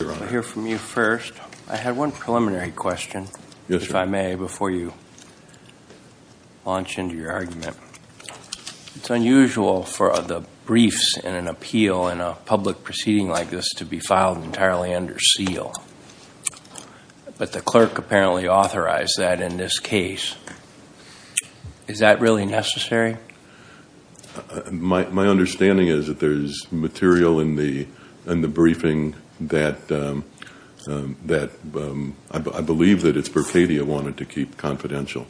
I'll hear from you first. I had one preliminary question, if I may, before you launch into your argument. It's unusual for the briefs in an appeal in a public proceeding like this to be filed entirely under seal, but the clerk apparently authorized that in this case. Is that really necessary? My understanding is that there's material in the briefing that I believe that it's Berkadia who wanted to keep confidential.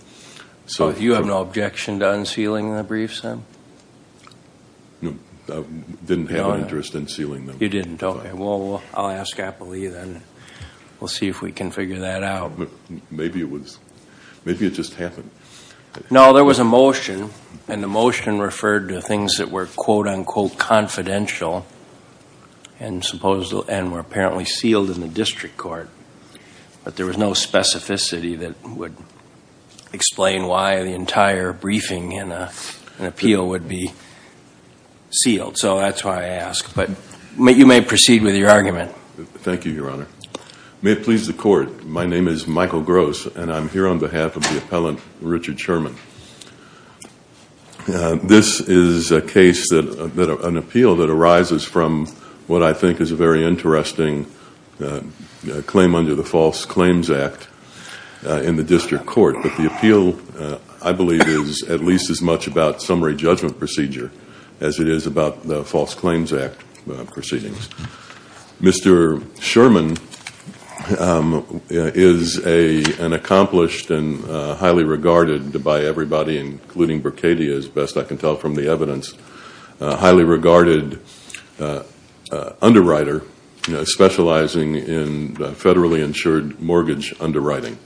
So you have no objection to unsealing the briefs, then? No, I didn't have an interest in sealing them. You didn't, okay. Well, I'll ask Appley then. We'll see if we can figure that out. Maybe it just happened. No, there was a motion, and the motion referred to things that were quote-unquote confidential and were apparently sealed in the district court, but there was no specificity that would explain why the entire briefing in an appeal would be sealed. So that's why I ask, but you may proceed with your argument. Thank you, Your Honor. May it please the Court, my name is Michael Gross, and I'm here on behalf of the appellant, Richard Sherman. This is a case, an appeal that arises from what I think is a very interesting claim under the False Claims Act in the district court, but the appeal, I believe, is at least as much about summary judgment procedure as it is about the False Claims Act proceedings. Mr. Sherman is an accomplished and highly regarded by everybody, including Berkadia, as best I can tell from the evidence, highly regarded underwriter specializing in federally insured mortgage underwriting.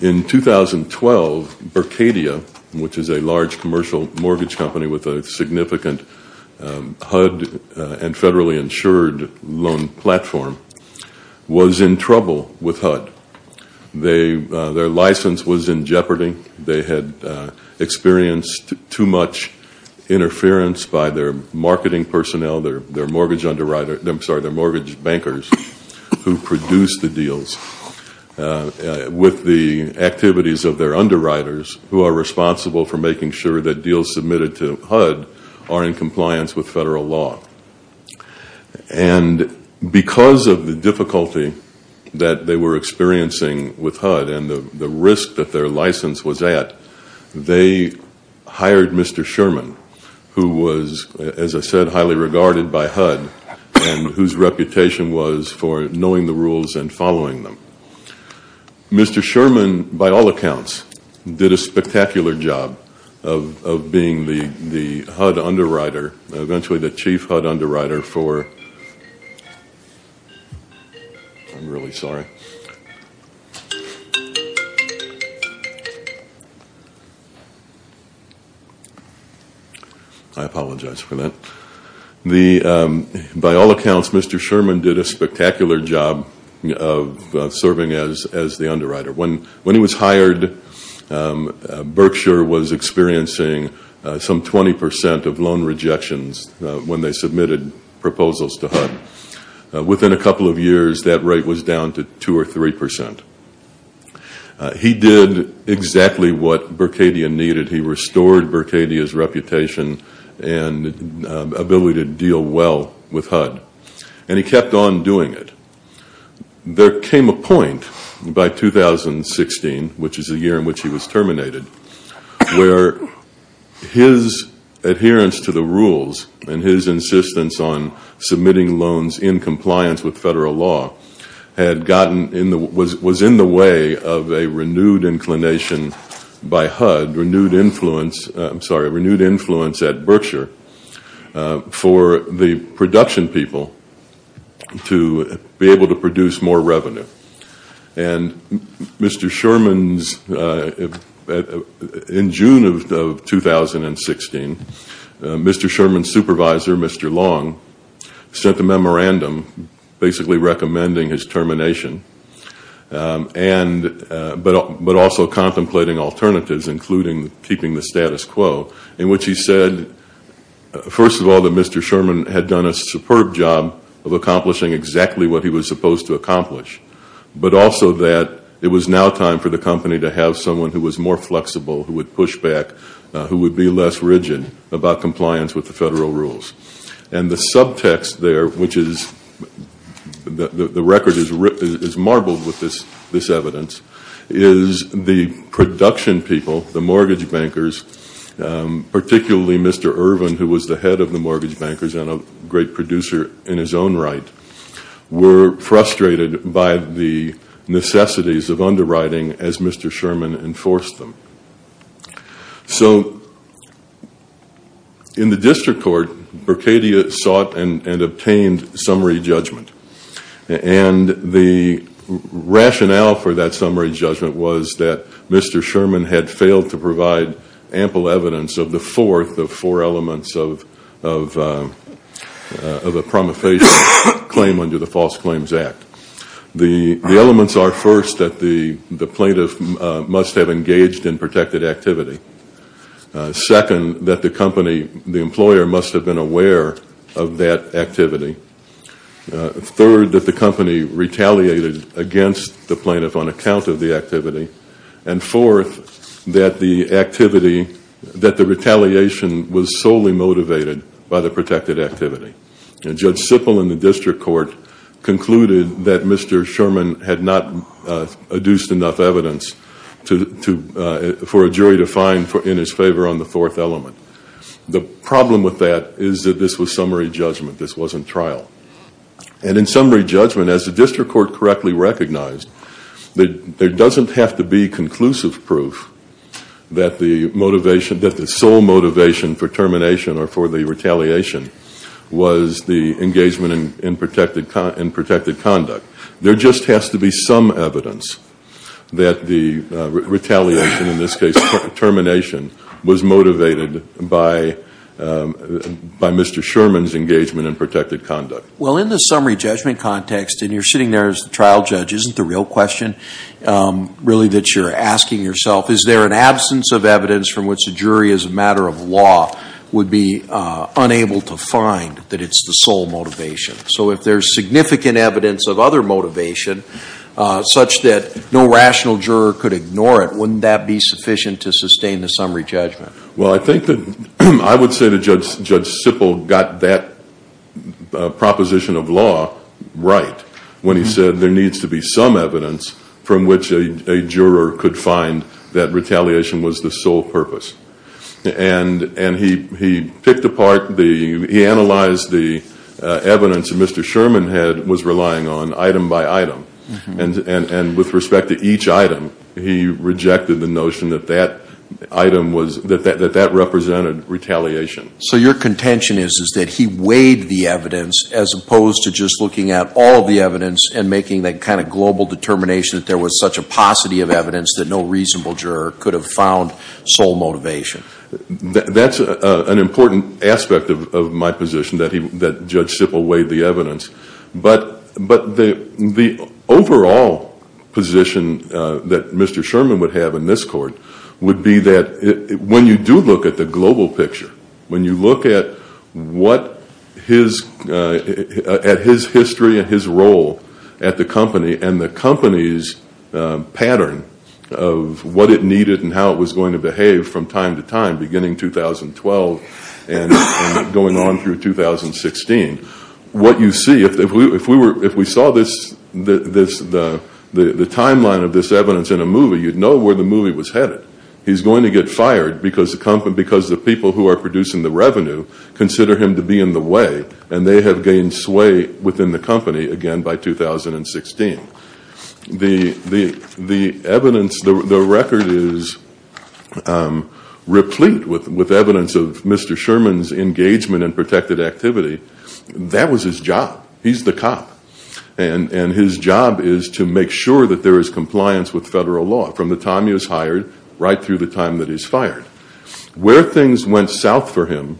In 2012, Berkadia, which is a large commercial mortgage company with a significant HUD and federally insured loan platform, was in trouble with HUD. Their license was in jeopardy. They had experienced too much interference by their marketing personnel, their mortgage bankers, who produced the deals, with the activities of their underwriters, who are responsible for making sure that deals submitted to HUD are in compliance with federal law. And because of the difficulty that they were experiencing with HUD and the risk that their license was at, they hired Mr. Sherman, who was, as I said, highly regarded by HUD and whose reputation was for knowing the rules and following them. Mr. Sherman, by all accounts, did a spectacular job of being the HUD underwriter, eventually the chief HUD underwriter for-I'm really sorry. I apologize for that. By all accounts, Mr. Sherman did a spectacular job of serving as the underwriter. When he was hired, Berkshire was experiencing some 20 percent of loan rejections when they submitted proposals to HUD. Within a couple of years, that rate was down to 2 or 3 percent. He did exactly what Berkadia needed. He restored Berkadia's reputation and ability to deal well with HUD. And he kept on doing it. There came a point by 2016, which is the year in which he was terminated, where his adherence to the rules and his insistence on submitting loans in compliance with federal law was in the way of a renewed inclination by HUD, renewed influence at Berkshire, for the production people to be able to produce more revenue. And Mr. Sherman's-in June of 2016, Mr. Sherman's supervisor, Mr. Long, sent a memorandum basically recommending his termination, but also contemplating alternatives, including keeping the status quo, in which he said, first of all, that Mr. Sherman had done a superb job of accomplishing exactly what he was supposed to accomplish, but also that it was now time for the company to have someone who was more flexible, who would push back, who would be less rigid about compliance with the federal rules. And the subtext there, which is-the record is marbled with this evidence, is the production people, the mortgage bankers, particularly Mr. Irvin, who was the head of the mortgage bankers and a great producer in his own right, were frustrated by the necessities of underwriting as Mr. Sherman enforced them. So in the district court, Berkadia sought and obtained summary judgment. And the rationale for that summary judgment was that Mr. Sherman had failed to provide ample evidence of the fourth of four elements of a promulgation claim under the False Claims Act. The elements are, first, that the plaintiff must have engaged in protected activity. Second, that the company-the employer must have been aware of that activity. Third, that the company retaliated against the plaintiff on account of the activity. And fourth, that the activity-that the retaliation was solely motivated by the protected activity. And Judge Sippel in the district court concluded that Mr. Sherman had not adduced enough evidence for a jury to find in his favor on the fourth element. The problem with that is that this was summary judgment. This wasn't trial. And in summary judgment, as the district court correctly recognized, there doesn't have to be conclusive proof that the motivation-that the sole motivation for termination or for the retaliation was the engagement in protected conduct. There just has to be some evidence that the retaliation, in this case termination, was motivated by Mr. Sherman's engagement in protected conduct. Well, in the summary judgment context, and you're sitting there as the trial judge, isn't the real question really that you're asking yourself, is there an absence of evidence from which a jury as a matter of law would be unable to find that it's the sole motivation? So if there's significant evidence of other motivation such that no rational juror could ignore it, wouldn't that be sufficient to sustain the summary judgment? Well, I think that-I would say that Judge Sippel got that proposition of law right when he said there needs to be some evidence from which a juror could find that retaliation was the sole purpose. And he picked apart the-he analyzed the evidence that Mr. Sherman was relying on item by item. And with respect to each item, he rejected the notion that that item was-that that represented retaliation. So your contention is that he weighed the evidence as opposed to just looking at all the evidence and making that kind of global determination that there was such a paucity of evidence that no reasonable juror could have found sole motivation? That's an important aspect of my position that he-that Judge Sippel weighed the evidence. But the overall position that Mr. Sherman would have in this court would be that when you do look at the global picture, when you look at what his-at his history and his role at the company and the company's pattern of what it needed and how it was going to behave from time to time beginning 2012 and going on through 2016, what you see-if we were-if we saw this-the timeline of this evidence in a movie, you'd know where the movie was headed. He's going to get fired because the people who are producing the revenue consider him to be in the way and they have gained sway within the company again by 2016. The evidence-the record is replete with evidence of Mr. Sherman's engagement in protected activity. That was his job. He's the cop. And his job is to make sure that there is compliance with federal law. From the time he was hired right through the time that he's fired. Where things went south for him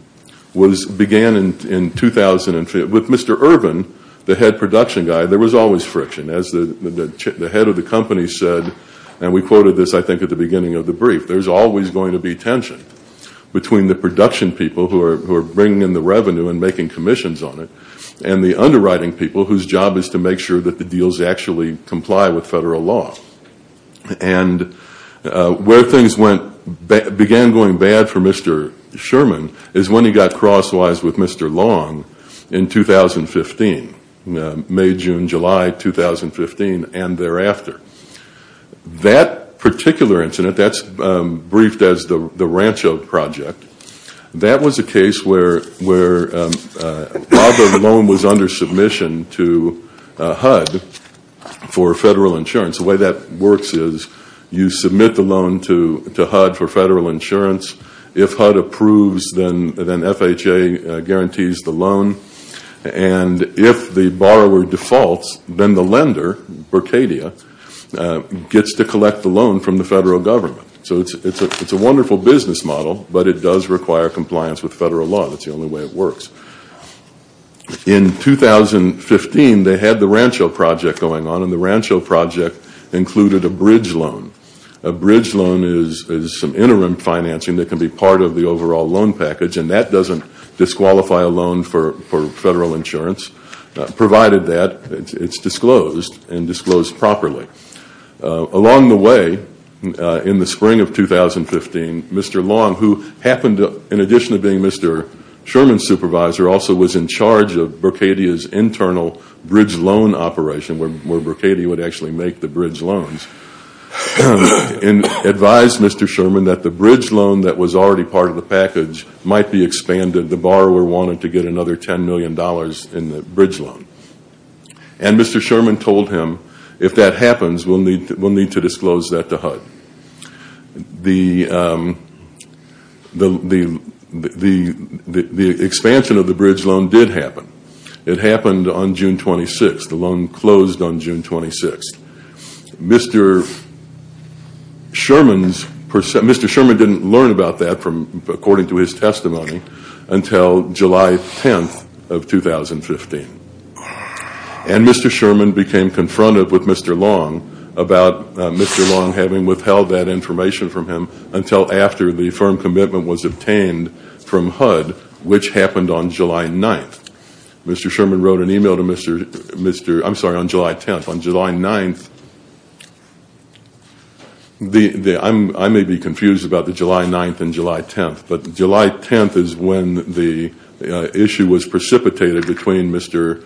was-began in 2005. With Mr. Irvin, the head production guy, there was always friction. As the head of the company said, and we quoted this I think at the beginning of the brief, there's always going to be tension between the production people who are bringing in the revenue and making commissions on it and the underwriting people whose job is to make sure that the deals actually comply with federal law. And where things went-began going bad for Mr. Sherman is when he got crosswise with Mr. Long in 2015. May, June, July 2015 and thereafter. That particular incident, that's briefed as the Rancho Project, that was a case where Robert Malone was under submission to HUD for federal insurance. The way that works is you submit the loan to HUD for federal insurance. If HUD approves, then FHA guarantees the loan. And if the borrower defaults, then the lender, Bercadia, gets to collect the loan from the federal government. So it's a wonderful business model, but it does require compliance with federal law. That's the only way it works. In 2015, they had the Rancho Project going on, and the Rancho Project included a bridge loan. A bridge loan is some interim financing that can be part of the overall loan package, and that doesn't disqualify a loan for federal insurance, provided that it's disclosed and disclosed properly. Along the way, in the spring of 2015, Mr. Long, who happened to, in addition to being Mr. Sherman's supervisor, also was in charge of Bercadia's internal bridge loan operation, where Bercadia would actually make the bridge loans, and advised Mr. Sherman that the bridge loan that was already part of the package might be expanded. The borrower wanted to get another $10 million in the bridge loan. And Mr. Sherman told him, if that happens, we'll need to disclose that to HUD. The expansion of the bridge loan did happen. It happened on June 26th. The loan closed on June 26th. Mr. Sherman didn't learn about that, according to his testimony, until July 10th of 2015. And Mr. Sherman became confronted with Mr. Long about Mr. Long having withheld that information from him until after the firm commitment was obtained from HUD, which happened on July 9th. Mr. Sherman wrote an email to Mr. – I'm sorry, on July 10th. On July 9th – I may be confused about the July 9th and July 10th, but July 10th is when the issue was precipitated between Mr.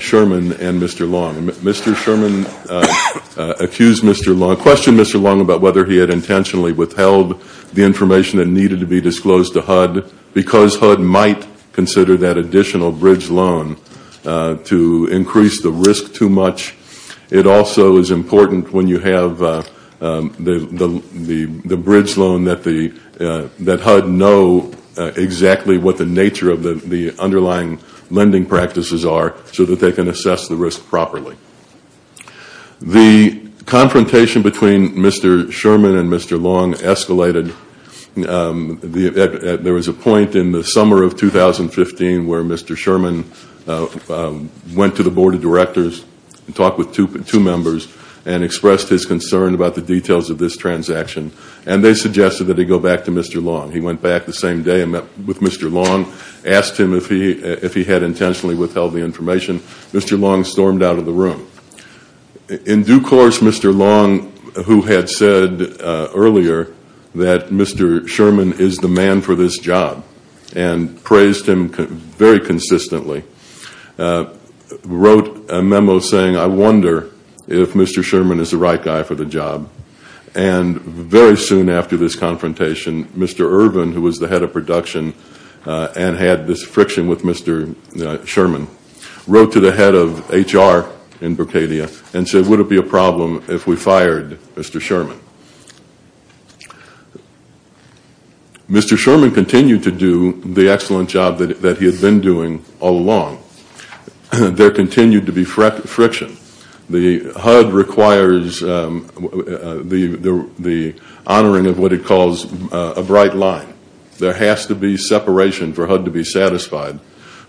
Sherman and Mr. Long. Mr. Sherman accused Mr. Long – questioned Mr. Long about whether he had intentionally withheld the information that needed to be disclosed to HUD because HUD might consider that additional bridge loan to increase the risk too much. It also is important when you have the bridge loan that HUD know exactly what the nature of the underlying lending practices are so that they can assess the risk properly. The confrontation between Mr. Sherman and Mr. Long escalated. There was a point in the summer of 2015 where Mr. Sherman went to the Board of Directors, talked with two members, and expressed his concern about the details of this transaction. And they suggested that he go back to Mr. Long. He went back the same day and met with Mr. Long, asked him if he had intentionally withheld the information. Mr. Long stormed out of the room. In due course, Mr. Long, who had said earlier that Mr. Sherman is the man for this job and praised him very consistently, wrote a memo saying, I wonder if Mr. Sherman is the right guy for the job. And very soon after this confrontation, Mr. Irvin, who was the head of production and had this friction with Mr. Sherman, wrote to the head of HR in Borkadia and said, would it be a problem if we fired Mr. Sherman? Mr. Sherman continued to do the excellent job that he had been doing all along. There continued to be friction. The HUD requires the honoring of what it calls a bright line. There has to be separation for HUD to be satisfied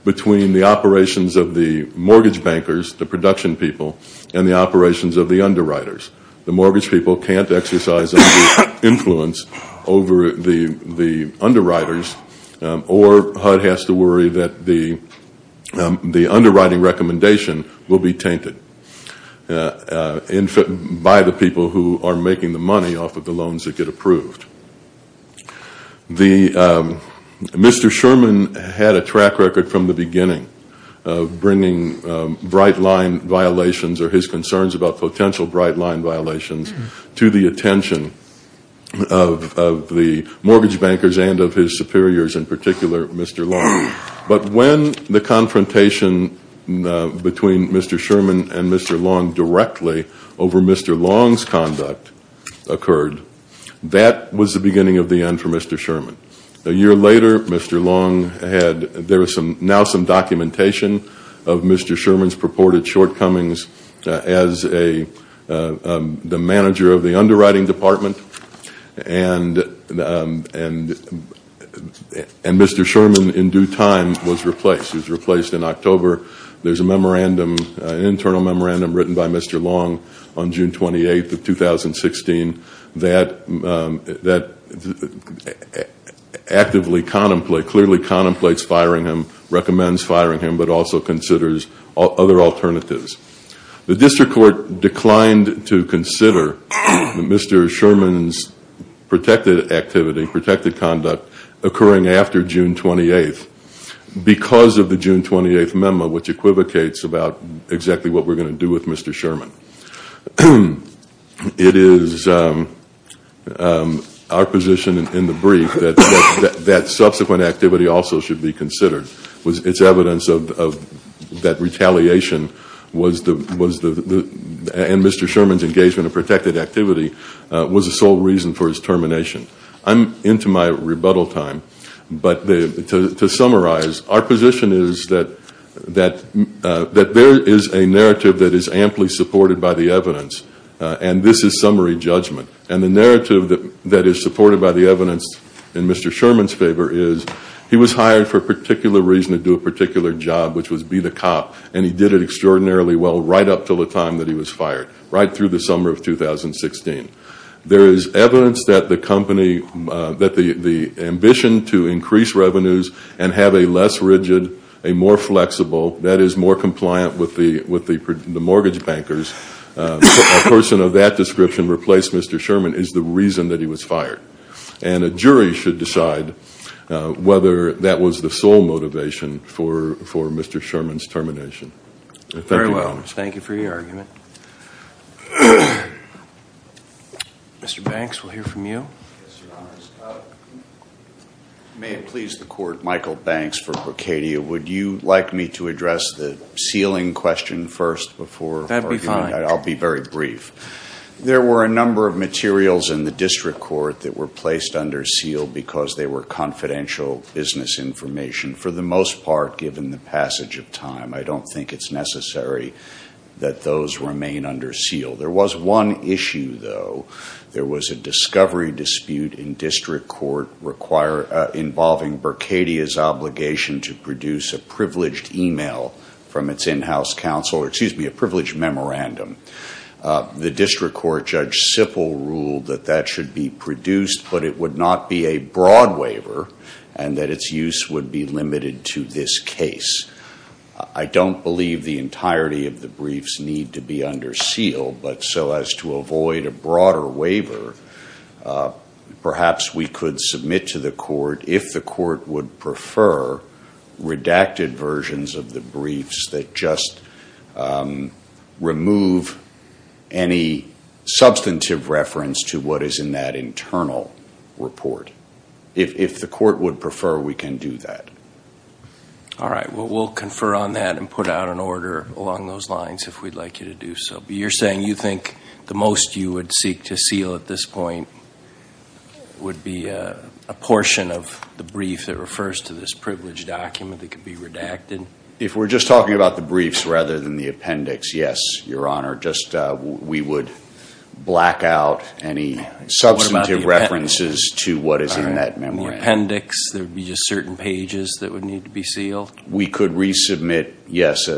between the operations of the mortgage bankers, the production people, and the operations of the underwriters. The mortgage people can't exercise influence over the underwriters, or HUD has to worry that the underwriting recommendation will be tainted by the people who are making the money off of the loans that get approved. Mr. Sherman had a track record from the beginning of bringing bright line violations or his concerns about potential bright line violations to the attention of the mortgage bankers and of his superiors, in particular Mr. Long. But when the confrontation between Mr. Sherman and Mr. Long directly over Mr. Long's conduct occurred, that was the beginning of the end for Mr. Sherman. A year later, Mr. Long had, there is now some documentation of Mr. Sherman's purported shortcomings as the manager of the underwriting department, and Mr. Sherman, in due time, was replaced. He was replaced in October. There is an internal memorandum written by Mr. Long on June 28th of 2016 that clearly contemplates firing him, recommends firing him, but also considers other alternatives. The district court declined to consider Mr. Sherman's protected activity, protected conduct, occurring after June 28th because of the June 28th memo, which equivocates about exactly what we're going to do with Mr. Sherman. It is our position in the brief that that subsequent activity also should be considered. It's evidence of that retaliation and Mr. Sherman's engagement in protected activity was the sole reason for his termination. I'm into my rebuttal time, but to summarize, our position is that there is a narrative that is amply supported by the evidence, and this is summary judgment, and the narrative that is supported by the evidence in Mr. Sherman's favor is he was hired for a particular reason to do a particular job, which was be the cop, and he did it extraordinarily well right up until the time that he was fired, right through the summer of 2016. There is evidence that the company, that the ambition to increase revenues and have a less rigid, a more flexible, that is more compliant with the mortgage bankers, a person of that description replaced Mr. Sherman is the reason that he was fired. And a jury should decide whether that was the sole motivation for Mr. Sherman's termination. Thank you, Your Honor. Very well. Thank you for your argument. Mr. Banks, we'll hear from you. Yes, Your Honor. May it please the Court, Michael Banks for Brocadia. Would you like me to address the ceiling question first before argument? That would be fine. I'll be very brief. There were a number of materials in the district court that were placed under seal because they were confidential business information, for the most part, given the passage of time. I don't think it's necessary that those remain under seal. There was one issue, though. There was a discovery dispute in district court involving Brocadia's obligation to produce a privileged email from its in-house counsel, or excuse me, a privileged memorandum. The district court Judge Sippel ruled that that should be produced, but it would not be a broad waiver and that its use would be limited to this case. I don't believe the entirety of the briefs need to be under seal, but so as to avoid a broader waiver, perhaps we could submit to the court, if the court would prefer, redacted versions of the briefs that just remove any substantive reference to what is in that internal report. If the court would prefer, we can do that. All right. Well, we'll confer on that and put out an order along those lines if we'd like you to do so. You're saying you think the most you would seek to seal at this point would be a portion of the brief that refers to this privileged document that could be redacted? If we're just talking about the briefs rather than the appendix, yes, Your Honor. Just we would black out any substantive references to what is in that memorandum. The appendix, there would be just certain pages that would need to be sealed? We could resubmit, yes,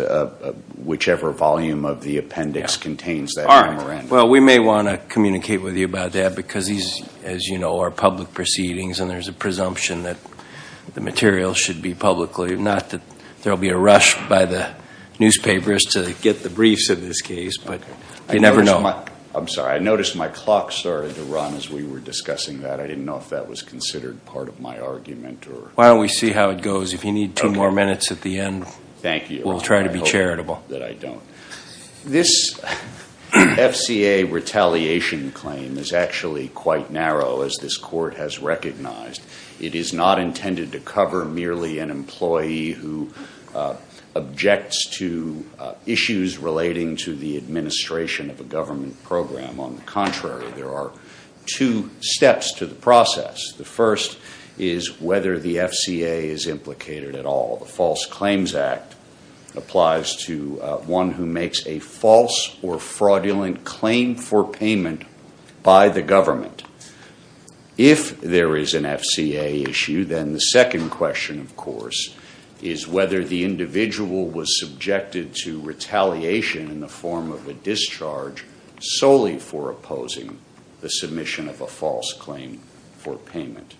whichever volume of the appendix contains that memorandum. All right. Well, we may want to communicate with you about that because these, as you know, are public proceedings and there's a presumption that the material should be publicly, not that there will be a rush by the newspapers to get the briefs of this case, but you never know. I'm sorry. I noticed my clock started to run as we were discussing that. I didn't know if that was considered part of my argument. Why don't we see how it goes? If you need two more minutes at the end, we'll try to be charitable. Thank you. I hope that I don't. This FCA retaliation claim is actually quite narrow, as this Court has recognized. It is not intended to cover merely an employee who objects to issues relating to the administration of a government program. The first is whether the FCA is implicated at all. The False Claims Act applies to one who makes a false or fraudulent claim for payment by the government. If there is an FCA issue, then the second question, of course, is whether the individual was subjected to retaliation in the form of a discharge solely for opposing the submission of a false claim for payment.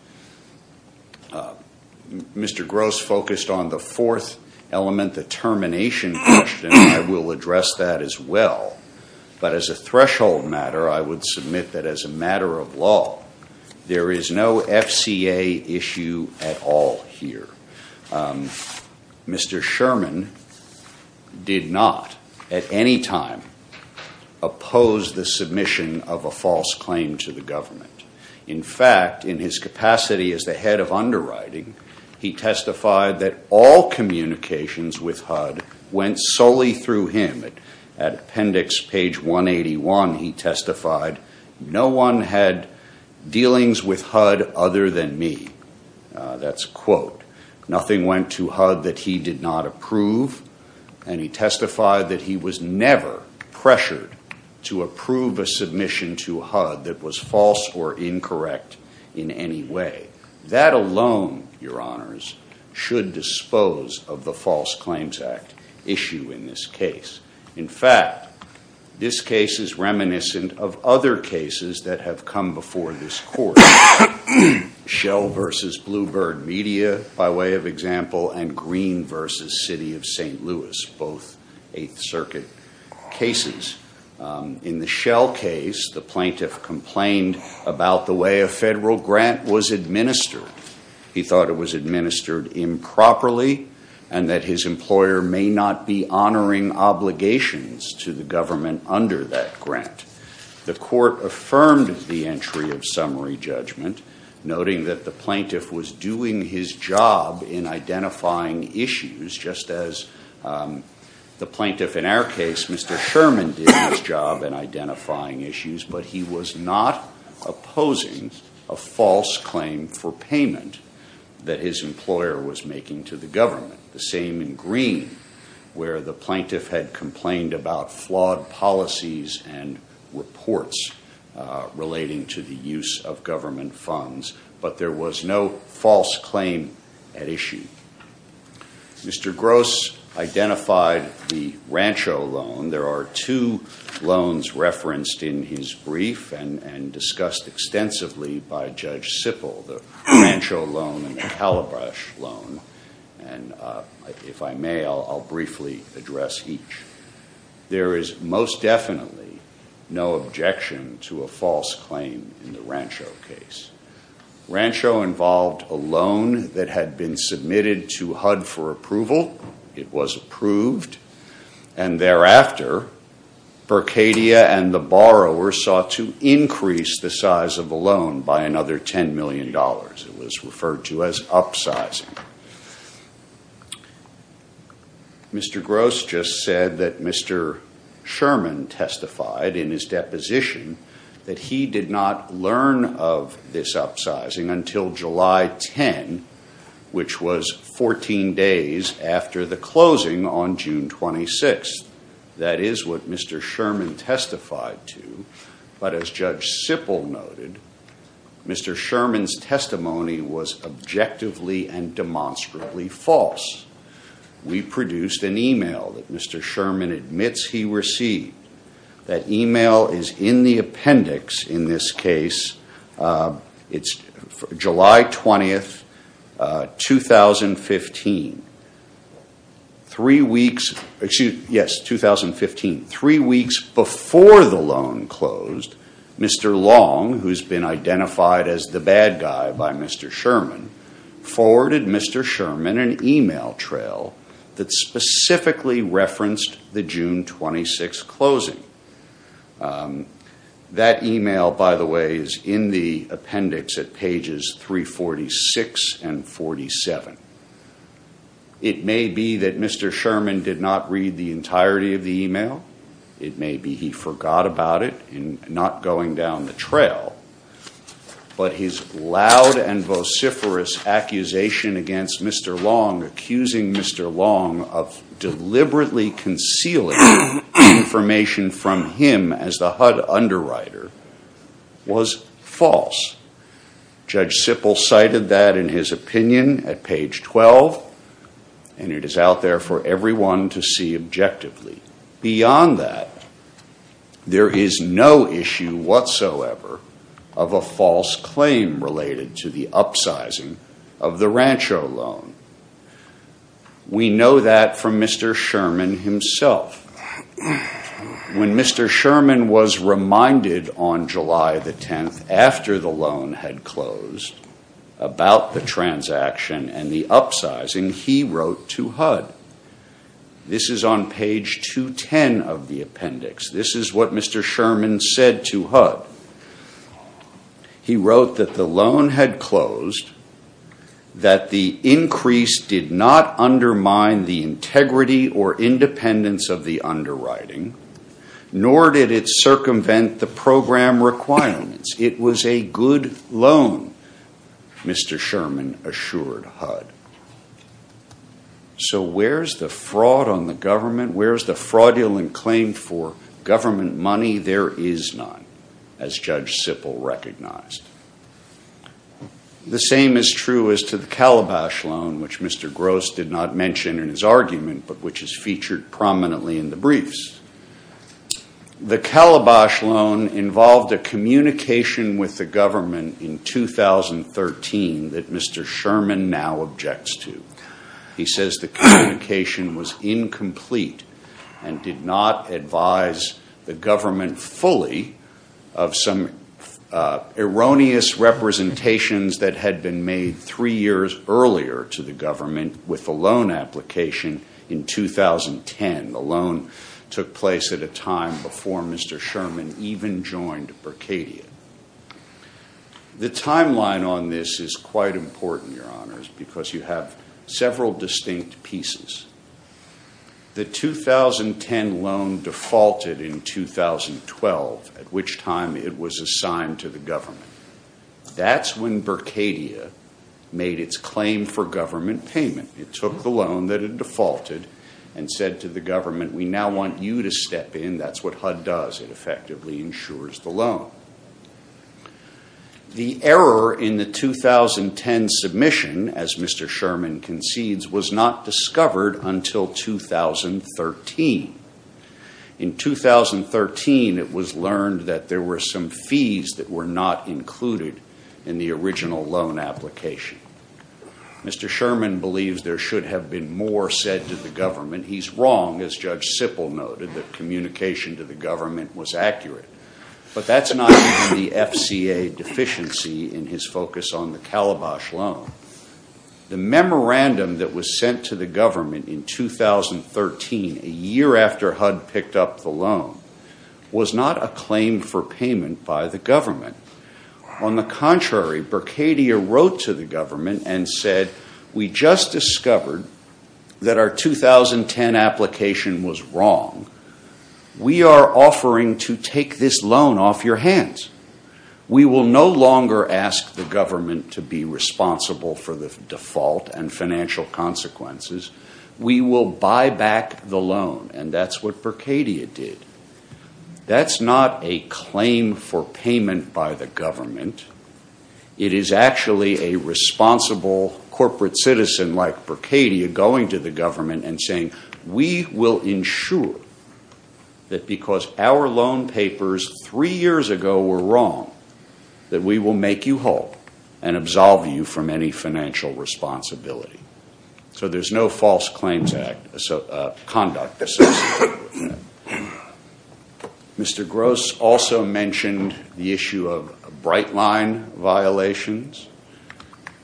Mr. Gross focused on the fourth element, the termination question. I will address that as well. But as a threshold matter, I would submit that as a matter of law, there is no FCA issue at all here. Mr. Sherman did not at any time oppose the submission of a false claim to the government. In fact, in his capacity as the head of underwriting, he testified that all communications with HUD went solely through him. At appendix page 181, he testified, no one had dealings with HUD other than me. That's a quote. Nothing went to HUD that he did not approve, and he testified that he was never pressured to approve a submission to HUD that was false or incorrect in any way. That alone, your honors, should dispose of the False Claims Act issue in this case. In fact, this case is reminiscent of other cases that have come before this court, Shell v. Blue Bird Media, by way of example, and Green v. City of St. Louis, both Eighth Circuit cases. In the Shell case, the plaintiff complained about the way a federal grant was administered. He thought it was administered improperly and that his employer may not be honoring obligations to the government under that grant. The court affirmed the entry of summary judgment, noting that the plaintiff was doing his job in identifying issues, just as the plaintiff in our case, Mr. Sherman, did his job in identifying issues, but he was not opposing a false claim for payment that his employer was making to the government. The same in Green, where the plaintiff had complained about flawed policies and reports relating to the use of government funds, but there was no false claim at issue. Mr. Gross identified the Rancho loan. There are two loans referenced in his brief and discussed extensively by Judge Sippel, the Rancho loan and the Calabash loan, and if I may, I'll briefly address each. There is most definitely no objection to a false claim in the Rancho case. Rancho involved a loan that had been submitted to HUD for approval. It was approved, and thereafter, Berkadia and the borrower sought to increase the size of the loan by another $10 million. It was referred to as upsizing. Mr. Gross just said that Mr. Sherman testified in his deposition that he did not learn of this upsizing until July 10, which was 14 days after the closing on June 26. That is what Mr. Sherman testified to, but as Judge Sippel noted, Mr. Sherman's testimony was objectively and demonstrably false. We produced an email that Mr. Sherman admits he received. That email is in the appendix in this case. It's July 20, 2015. Three weeks before the loan closed, Mr. Long, who has been identified as the bad guy by Mr. Sherman, forwarded Mr. Sherman an email trail that specifically referenced the June 26 closing. That email, by the way, is in the appendix at pages 346 and 47. It may be that Mr. Sherman did not read the entirety of the email. It may be he forgot about it in not going down the trail, but his loud and vociferous accusation against Mr. Long, accusing Mr. Long of deliberately concealing information from him as the HUD underwriter, was false. Judge Sippel cited that in his opinion at page 12, and it is out there for everyone to see objectively. Beyond that, there is no issue whatsoever of a false claim related to the upsizing of the Rancho loan. We know that from Mr. Sherman himself. When Mr. Sherman was reminded on July the 10th, after the loan had closed, about the transaction and the upsizing, he wrote to HUD. This is on page 210 of the appendix. This is what Mr. Sherman said to HUD. He wrote that the loan had closed, that the increase did not undermine the integrity or independence of the underwriting, nor did it circumvent the program requirements. It was a good loan, Mr. Sherman assured HUD. So where is the fraud on the government? Where is the fraudulent claim for government money? There is none, as Judge Sippel recognized. The same is true as to the Calabash loan, which Mr. Gross did not mention in his argument, but which is featured prominently in the briefs. The Calabash loan involved a communication with the government in 2013 that Mr. Sherman now objects to. He says the communication was incomplete and did not advise the government fully of some erroneous representations that had been made three years earlier to the government with the loan application in 2010. The loan took place at a time before Mr. Sherman even joined Berkadia. The timeline on this is quite important, Your Honors, because you have several distinct pieces. The 2010 loan defaulted in 2012, at which time it was assigned to the government. That's when Berkadia made its claim for government payment. It took the loan that it defaulted and said to the government, we now want you to step in. That's what HUD does. It effectively insures the loan. The error in the 2010 submission, as Mr. Sherman concedes, was not discovered until 2013. In 2013, it was learned that there were some fees that were not included in the original loan application. Mr. Sherman believes there should have been more said to the government. He's wrong, as Judge Sippel noted, that communication to the government was accurate. But that's not due to the FCA deficiency in his focus on the Calabash loan. The memorandum that was sent to the government in 2013, a year after HUD picked up the loan, was not a claim for payment by the government. On the contrary, Berkadia wrote to the government and said, we just discovered that our 2010 application was wrong. We are offering to take this loan off your hands. We will no longer ask the government to be responsible for the default and financial consequences. We will buy back the loan, and that's what Berkadia did. That's not a claim for payment by the government. It is actually a responsible corporate citizen like Berkadia going to the government and saying, we will ensure that because our loan papers three years ago were wrong, that we will make you whole and absolve you from any financial responsibility. So there's no false conduct associated with that. Mr. Gross also mentioned the issue of Brightline violations.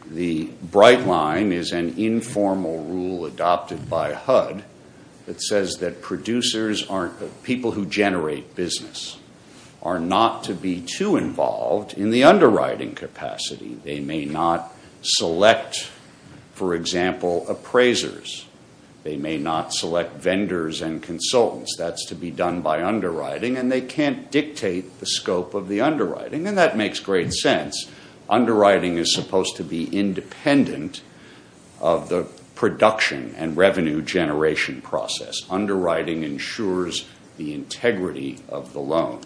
The Brightline is an informal rule adopted by HUD that says that people who generate business are not to be too involved in the underwriting capacity. They may not select, for example, appraisers. They may not select vendors and consultants. That's to be done by underwriting, and they can't dictate the scope of the underwriting, and that makes great sense. Underwriting is supposed to be independent of the production and revenue generation process. Underwriting ensures the integrity of the loan.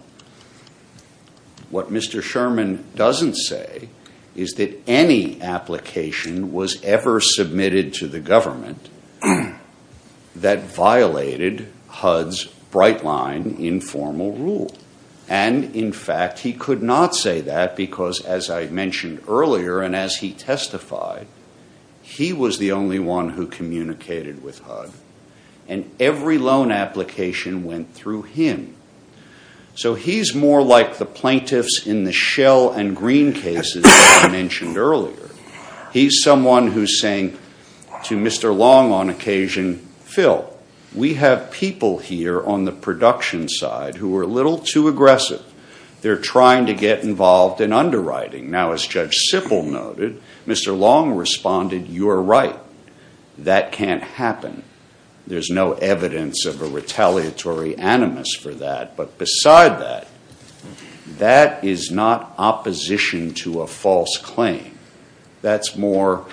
What Mr. Sherman doesn't say is that any application was ever submitted to the government that violated HUD's Brightline informal rule. And, in fact, he could not say that because, as I mentioned earlier and as he testified, he was the only one who communicated with HUD, and every loan application went through him. So he's more like the plaintiffs in the Shell and Green cases that I mentioned earlier. He's someone who's saying to Mr. Long on occasion, Phil, we have people here on the production side who are a little too aggressive. They're trying to get involved in underwriting. Now, as Judge Sippel noted, Mr. Long responded, you're right. That can't happen. There's no evidence of a retaliatory animus for that. But beside that, that is not opposition to a false claim. That's more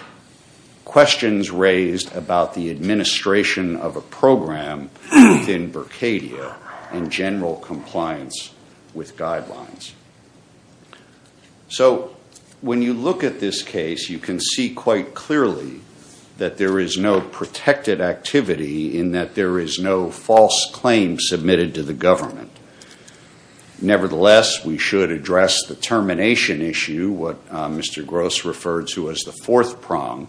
questions raised about the administration of a program within Berkadia and general compliance with guidelines. So when you look at this case, you can see quite clearly that there is no protected activity in that there is no false claim submitted to the government. Nevertheless, we should address the termination issue, what Mr. Gross referred to as the fourth prong,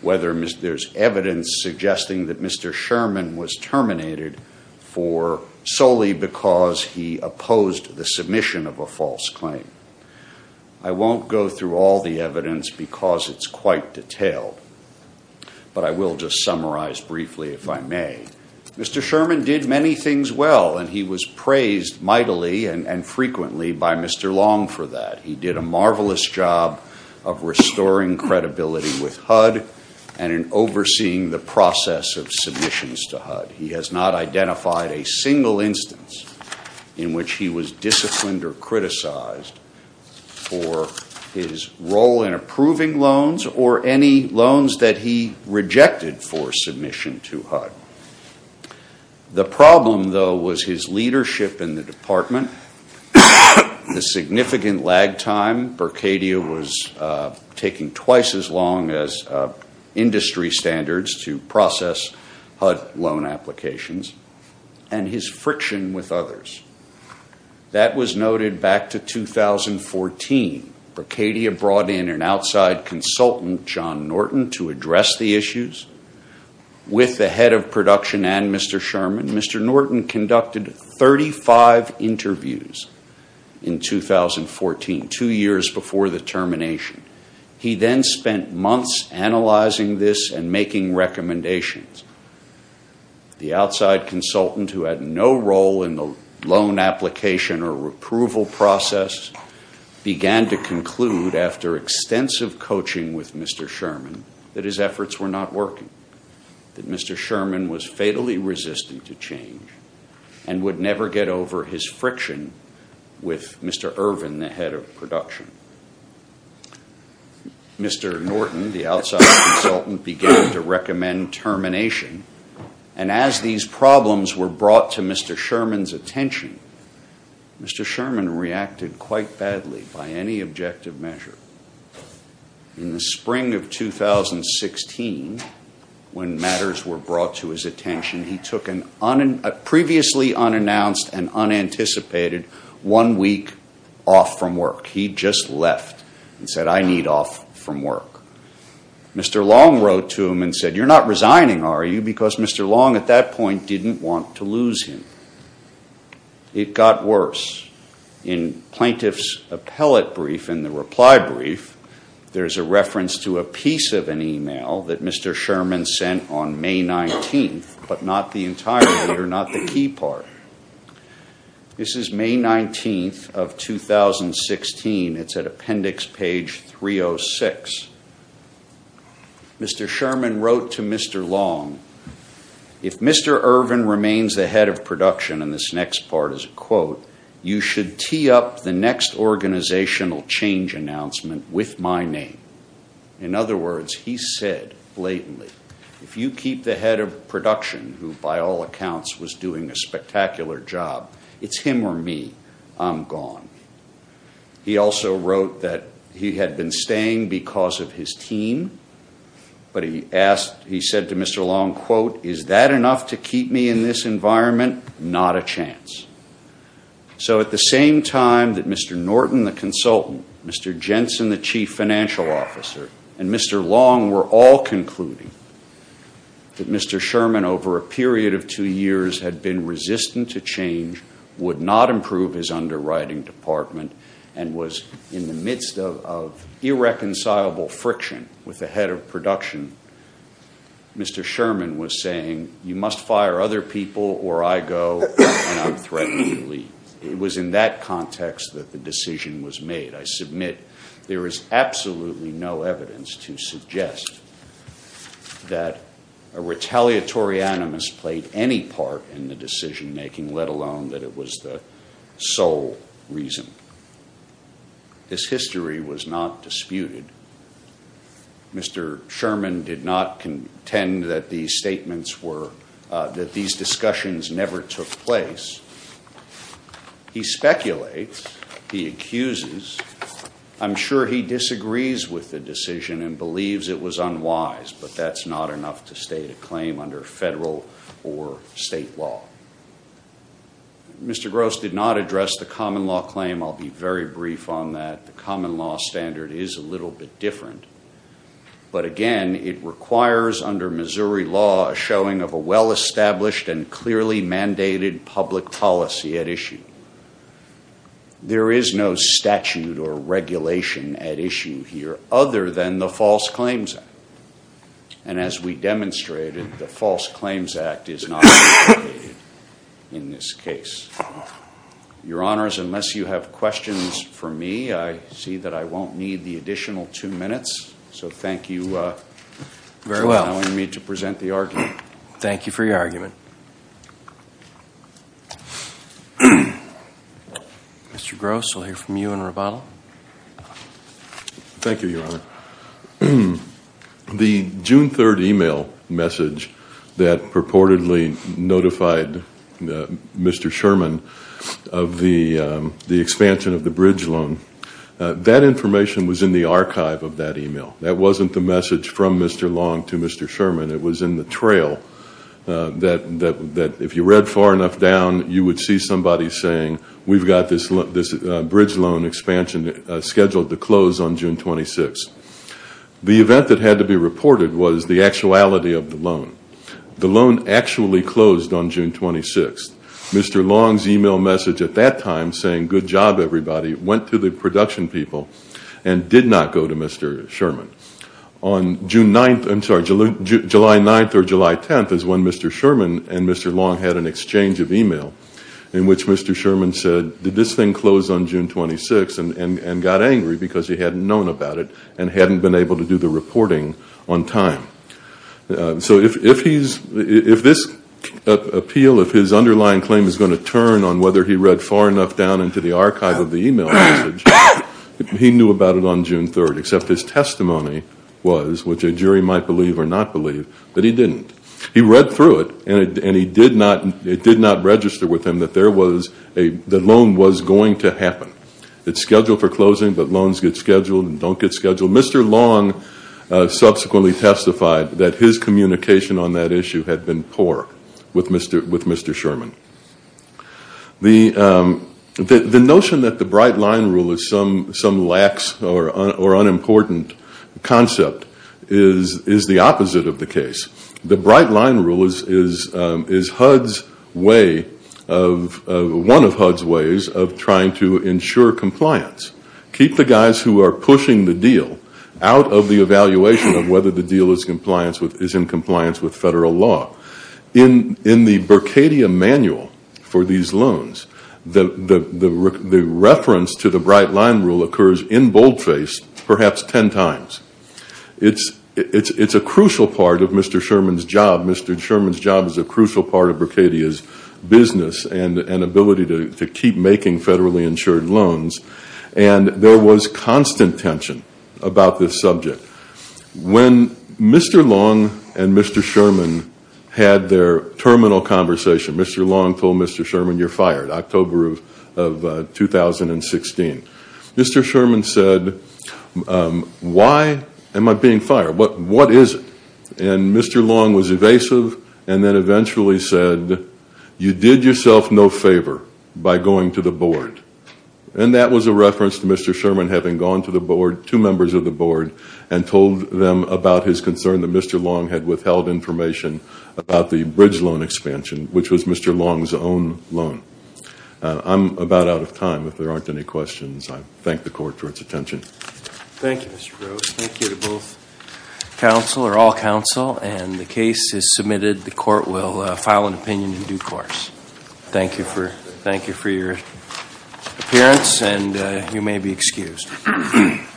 whether there's evidence suggesting that Mr. Sherman was terminated for solely because he opposed the submission of a false claim. I won't go through all the evidence because it's quite detailed, but I will just summarize briefly if I may. Mr. Sherman did many things well, and he was praised mightily and frequently by Mr. Long for that. He did a marvelous job of restoring credibility with HUD and in overseeing the process of submissions to HUD. He has not identified a single instance in which he was disciplined or criticized for his role in approving loans or any loans that he rejected for submission to HUD. The problem, though, was his leadership in the department, the significant lag time. Bercadia was taking twice as long as industry standards to process HUD loan applications and his friction with others. That was noted back to 2014. Bercadia brought in an outside consultant, John Norton, to address the issues. With the head of production and Mr. Sherman, Mr. Norton conducted 35 interviews in 2014, two years before the termination. He then spent months analyzing this and making recommendations. The outside consultant, who had no role in the loan application or approval process, began to conclude after extensive coaching with Mr. Sherman that his efforts were not working, that Mr. Sherman was fatally resistant to change and would never get over his friction with Mr. Irvin, the head of production. Mr. Norton, the outside consultant, began to recommend termination. And as these problems were brought to Mr. Sherman's attention, Mr. Sherman reacted quite badly by any objective measure. In the spring of 2016, when matters were brought to his attention, he took a previously unannounced and unanticipated one week off from work. He just left and said, I need off from work. Mr. Long wrote to him and said, you're not resigning, are you? Because Mr. Long at that point didn't want to lose him. It got worse. In plaintiff's appellate brief and the reply brief, there's a reference to a piece of an email that Mr. Sherman sent on May 19th, but not the entirety or not the key part. This is May 19th of 2016. It's at appendix page 306. Mr. Sherman wrote to Mr. Long, If Mr. Irvin remains the head of production, and this next part is a quote, you should tee up the next organizational change announcement with my name. In other words, he said blatantly, if you keep the head of production, who by all accounts was doing a spectacular job, it's him or me. I'm gone. He also wrote that he had been staying because of his team, but he said to Mr. Long, Is that enough to keep me in this environment? Not a chance. So at the same time that Mr. Norton, the consultant, Mr. Jensen, the chief financial officer, and Mr. Long were all concluding that Mr. Sherman, over a period of two years, had been resistant to change, would not improve his underwriting department, and was in the midst of irreconcilable friction with the head of production, Mr. Sherman was saying, You must fire other people or I go and I'm threatening to leave. It was in that context that the decision was made. I submit there is absolutely no evidence to suggest that a retaliatory animus played any part in the decision making, let alone that it was the sole reason. This history was not disputed. Mr. Sherman did not contend that these statements were, that these discussions never took place. He speculates, he accuses, I'm sure he disagrees with the decision and believes it was unwise, but that's not enough to state a claim under federal or state law. Mr. Gross did not address the common law claim. I'll be very brief on that. The common law standard is a little bit different. But again, it requires, under Missouri law, a showing of a well-established and clearly mandated public policy at issue. There is no statute or regulation at issue here other than the False Claims Act. And as we demonstrated, the False Claims Act is not in this case. Your Honors, unless you have questions for me, I see that I won't need the additional two minutes. So thank you for allowing me to present the argument. Thank you for your argument. Mr. Gross, we'll hear from you in rebuttal. Thank you, Your Honor. The June 3rd email message that purportedly notified Mr. Sherman of the expansion of the bridge loan, that information was in the archive of that email. That wasn't the message from Mr. Long to Mr. Sherman. It was in the trail that, if you read far enough down, you would see somebody saying, we've got this bridge loan expansion scheduled to close on June 26th. The event that had to be reported was the actuality of the loan. The loan actually closed on June 26th. Mr. Long's email message at that time saying, good job, everybody, went to the production people and did not go to Mr. Sherman. On July 9th or July 10th is when Mr. Sherman and Mr. Long had an exchange of email in which Mr. Sherman said, did this thing close on June 26th and got angry because he hadn't known about it and hadn't been able to do the reporting on time. So if this appeal, if his underlying claim is going to turn on whether he read far enough down into the archive of the email message, he knew about it on June 3rd, except his testimony was, which a jury might believe or not believe, that he didn't. He read through it, and it did not register with him that the loan was going to happen. It's scheduled for closing, but loans get scheduled and don't get scheduled. Mr. Long subsequently testified that his communication on that issue had been poor with Mr. Sherman. The notion that the Bright Line Rule is some lax or unimportant concept is the opposite of the case. The Bright Line Rule is HUD's way of, one of HUD's ways of trying to ensure compliance. Keep the guys who are pushing the deal out of the evaluation of whether the deal is in compliance with federal law. In the Berkadia manual for these loans, the reference to the Bright Line Rule occurs in boldface perhaps 10 times. It's a crucial part of Mr. Sherman's job. Mr. Sherman's job is a crucial part of Berkadia's business and ability to keep making federally insured loans. And there was constant tension about this subject. When Mr. Long and Mr. Sherman had their terminal conversation, Mr. Long told Mr. Sherman, you're fired, October of 2016. Mr. Sherman said, why am I being fired? What is it? And Mr. Long was evasive and then eventually said, you did yourself no favor by going to the board. And that was a reference to Mr. Sherman having gone to the board, two members of the board, and told them about his concern that Mr. Long had withheld information about the bridge loan expansion, which was Mr. Long's own loan. I'm about out of time. If there aren't any questions, I thank the court for its attention. Thank you, Mr. Gross. Thank you to both counsel or all counsel. And the case is submitted. The court will file an opinion in due course. Thank you for your appearance, and you may be excused.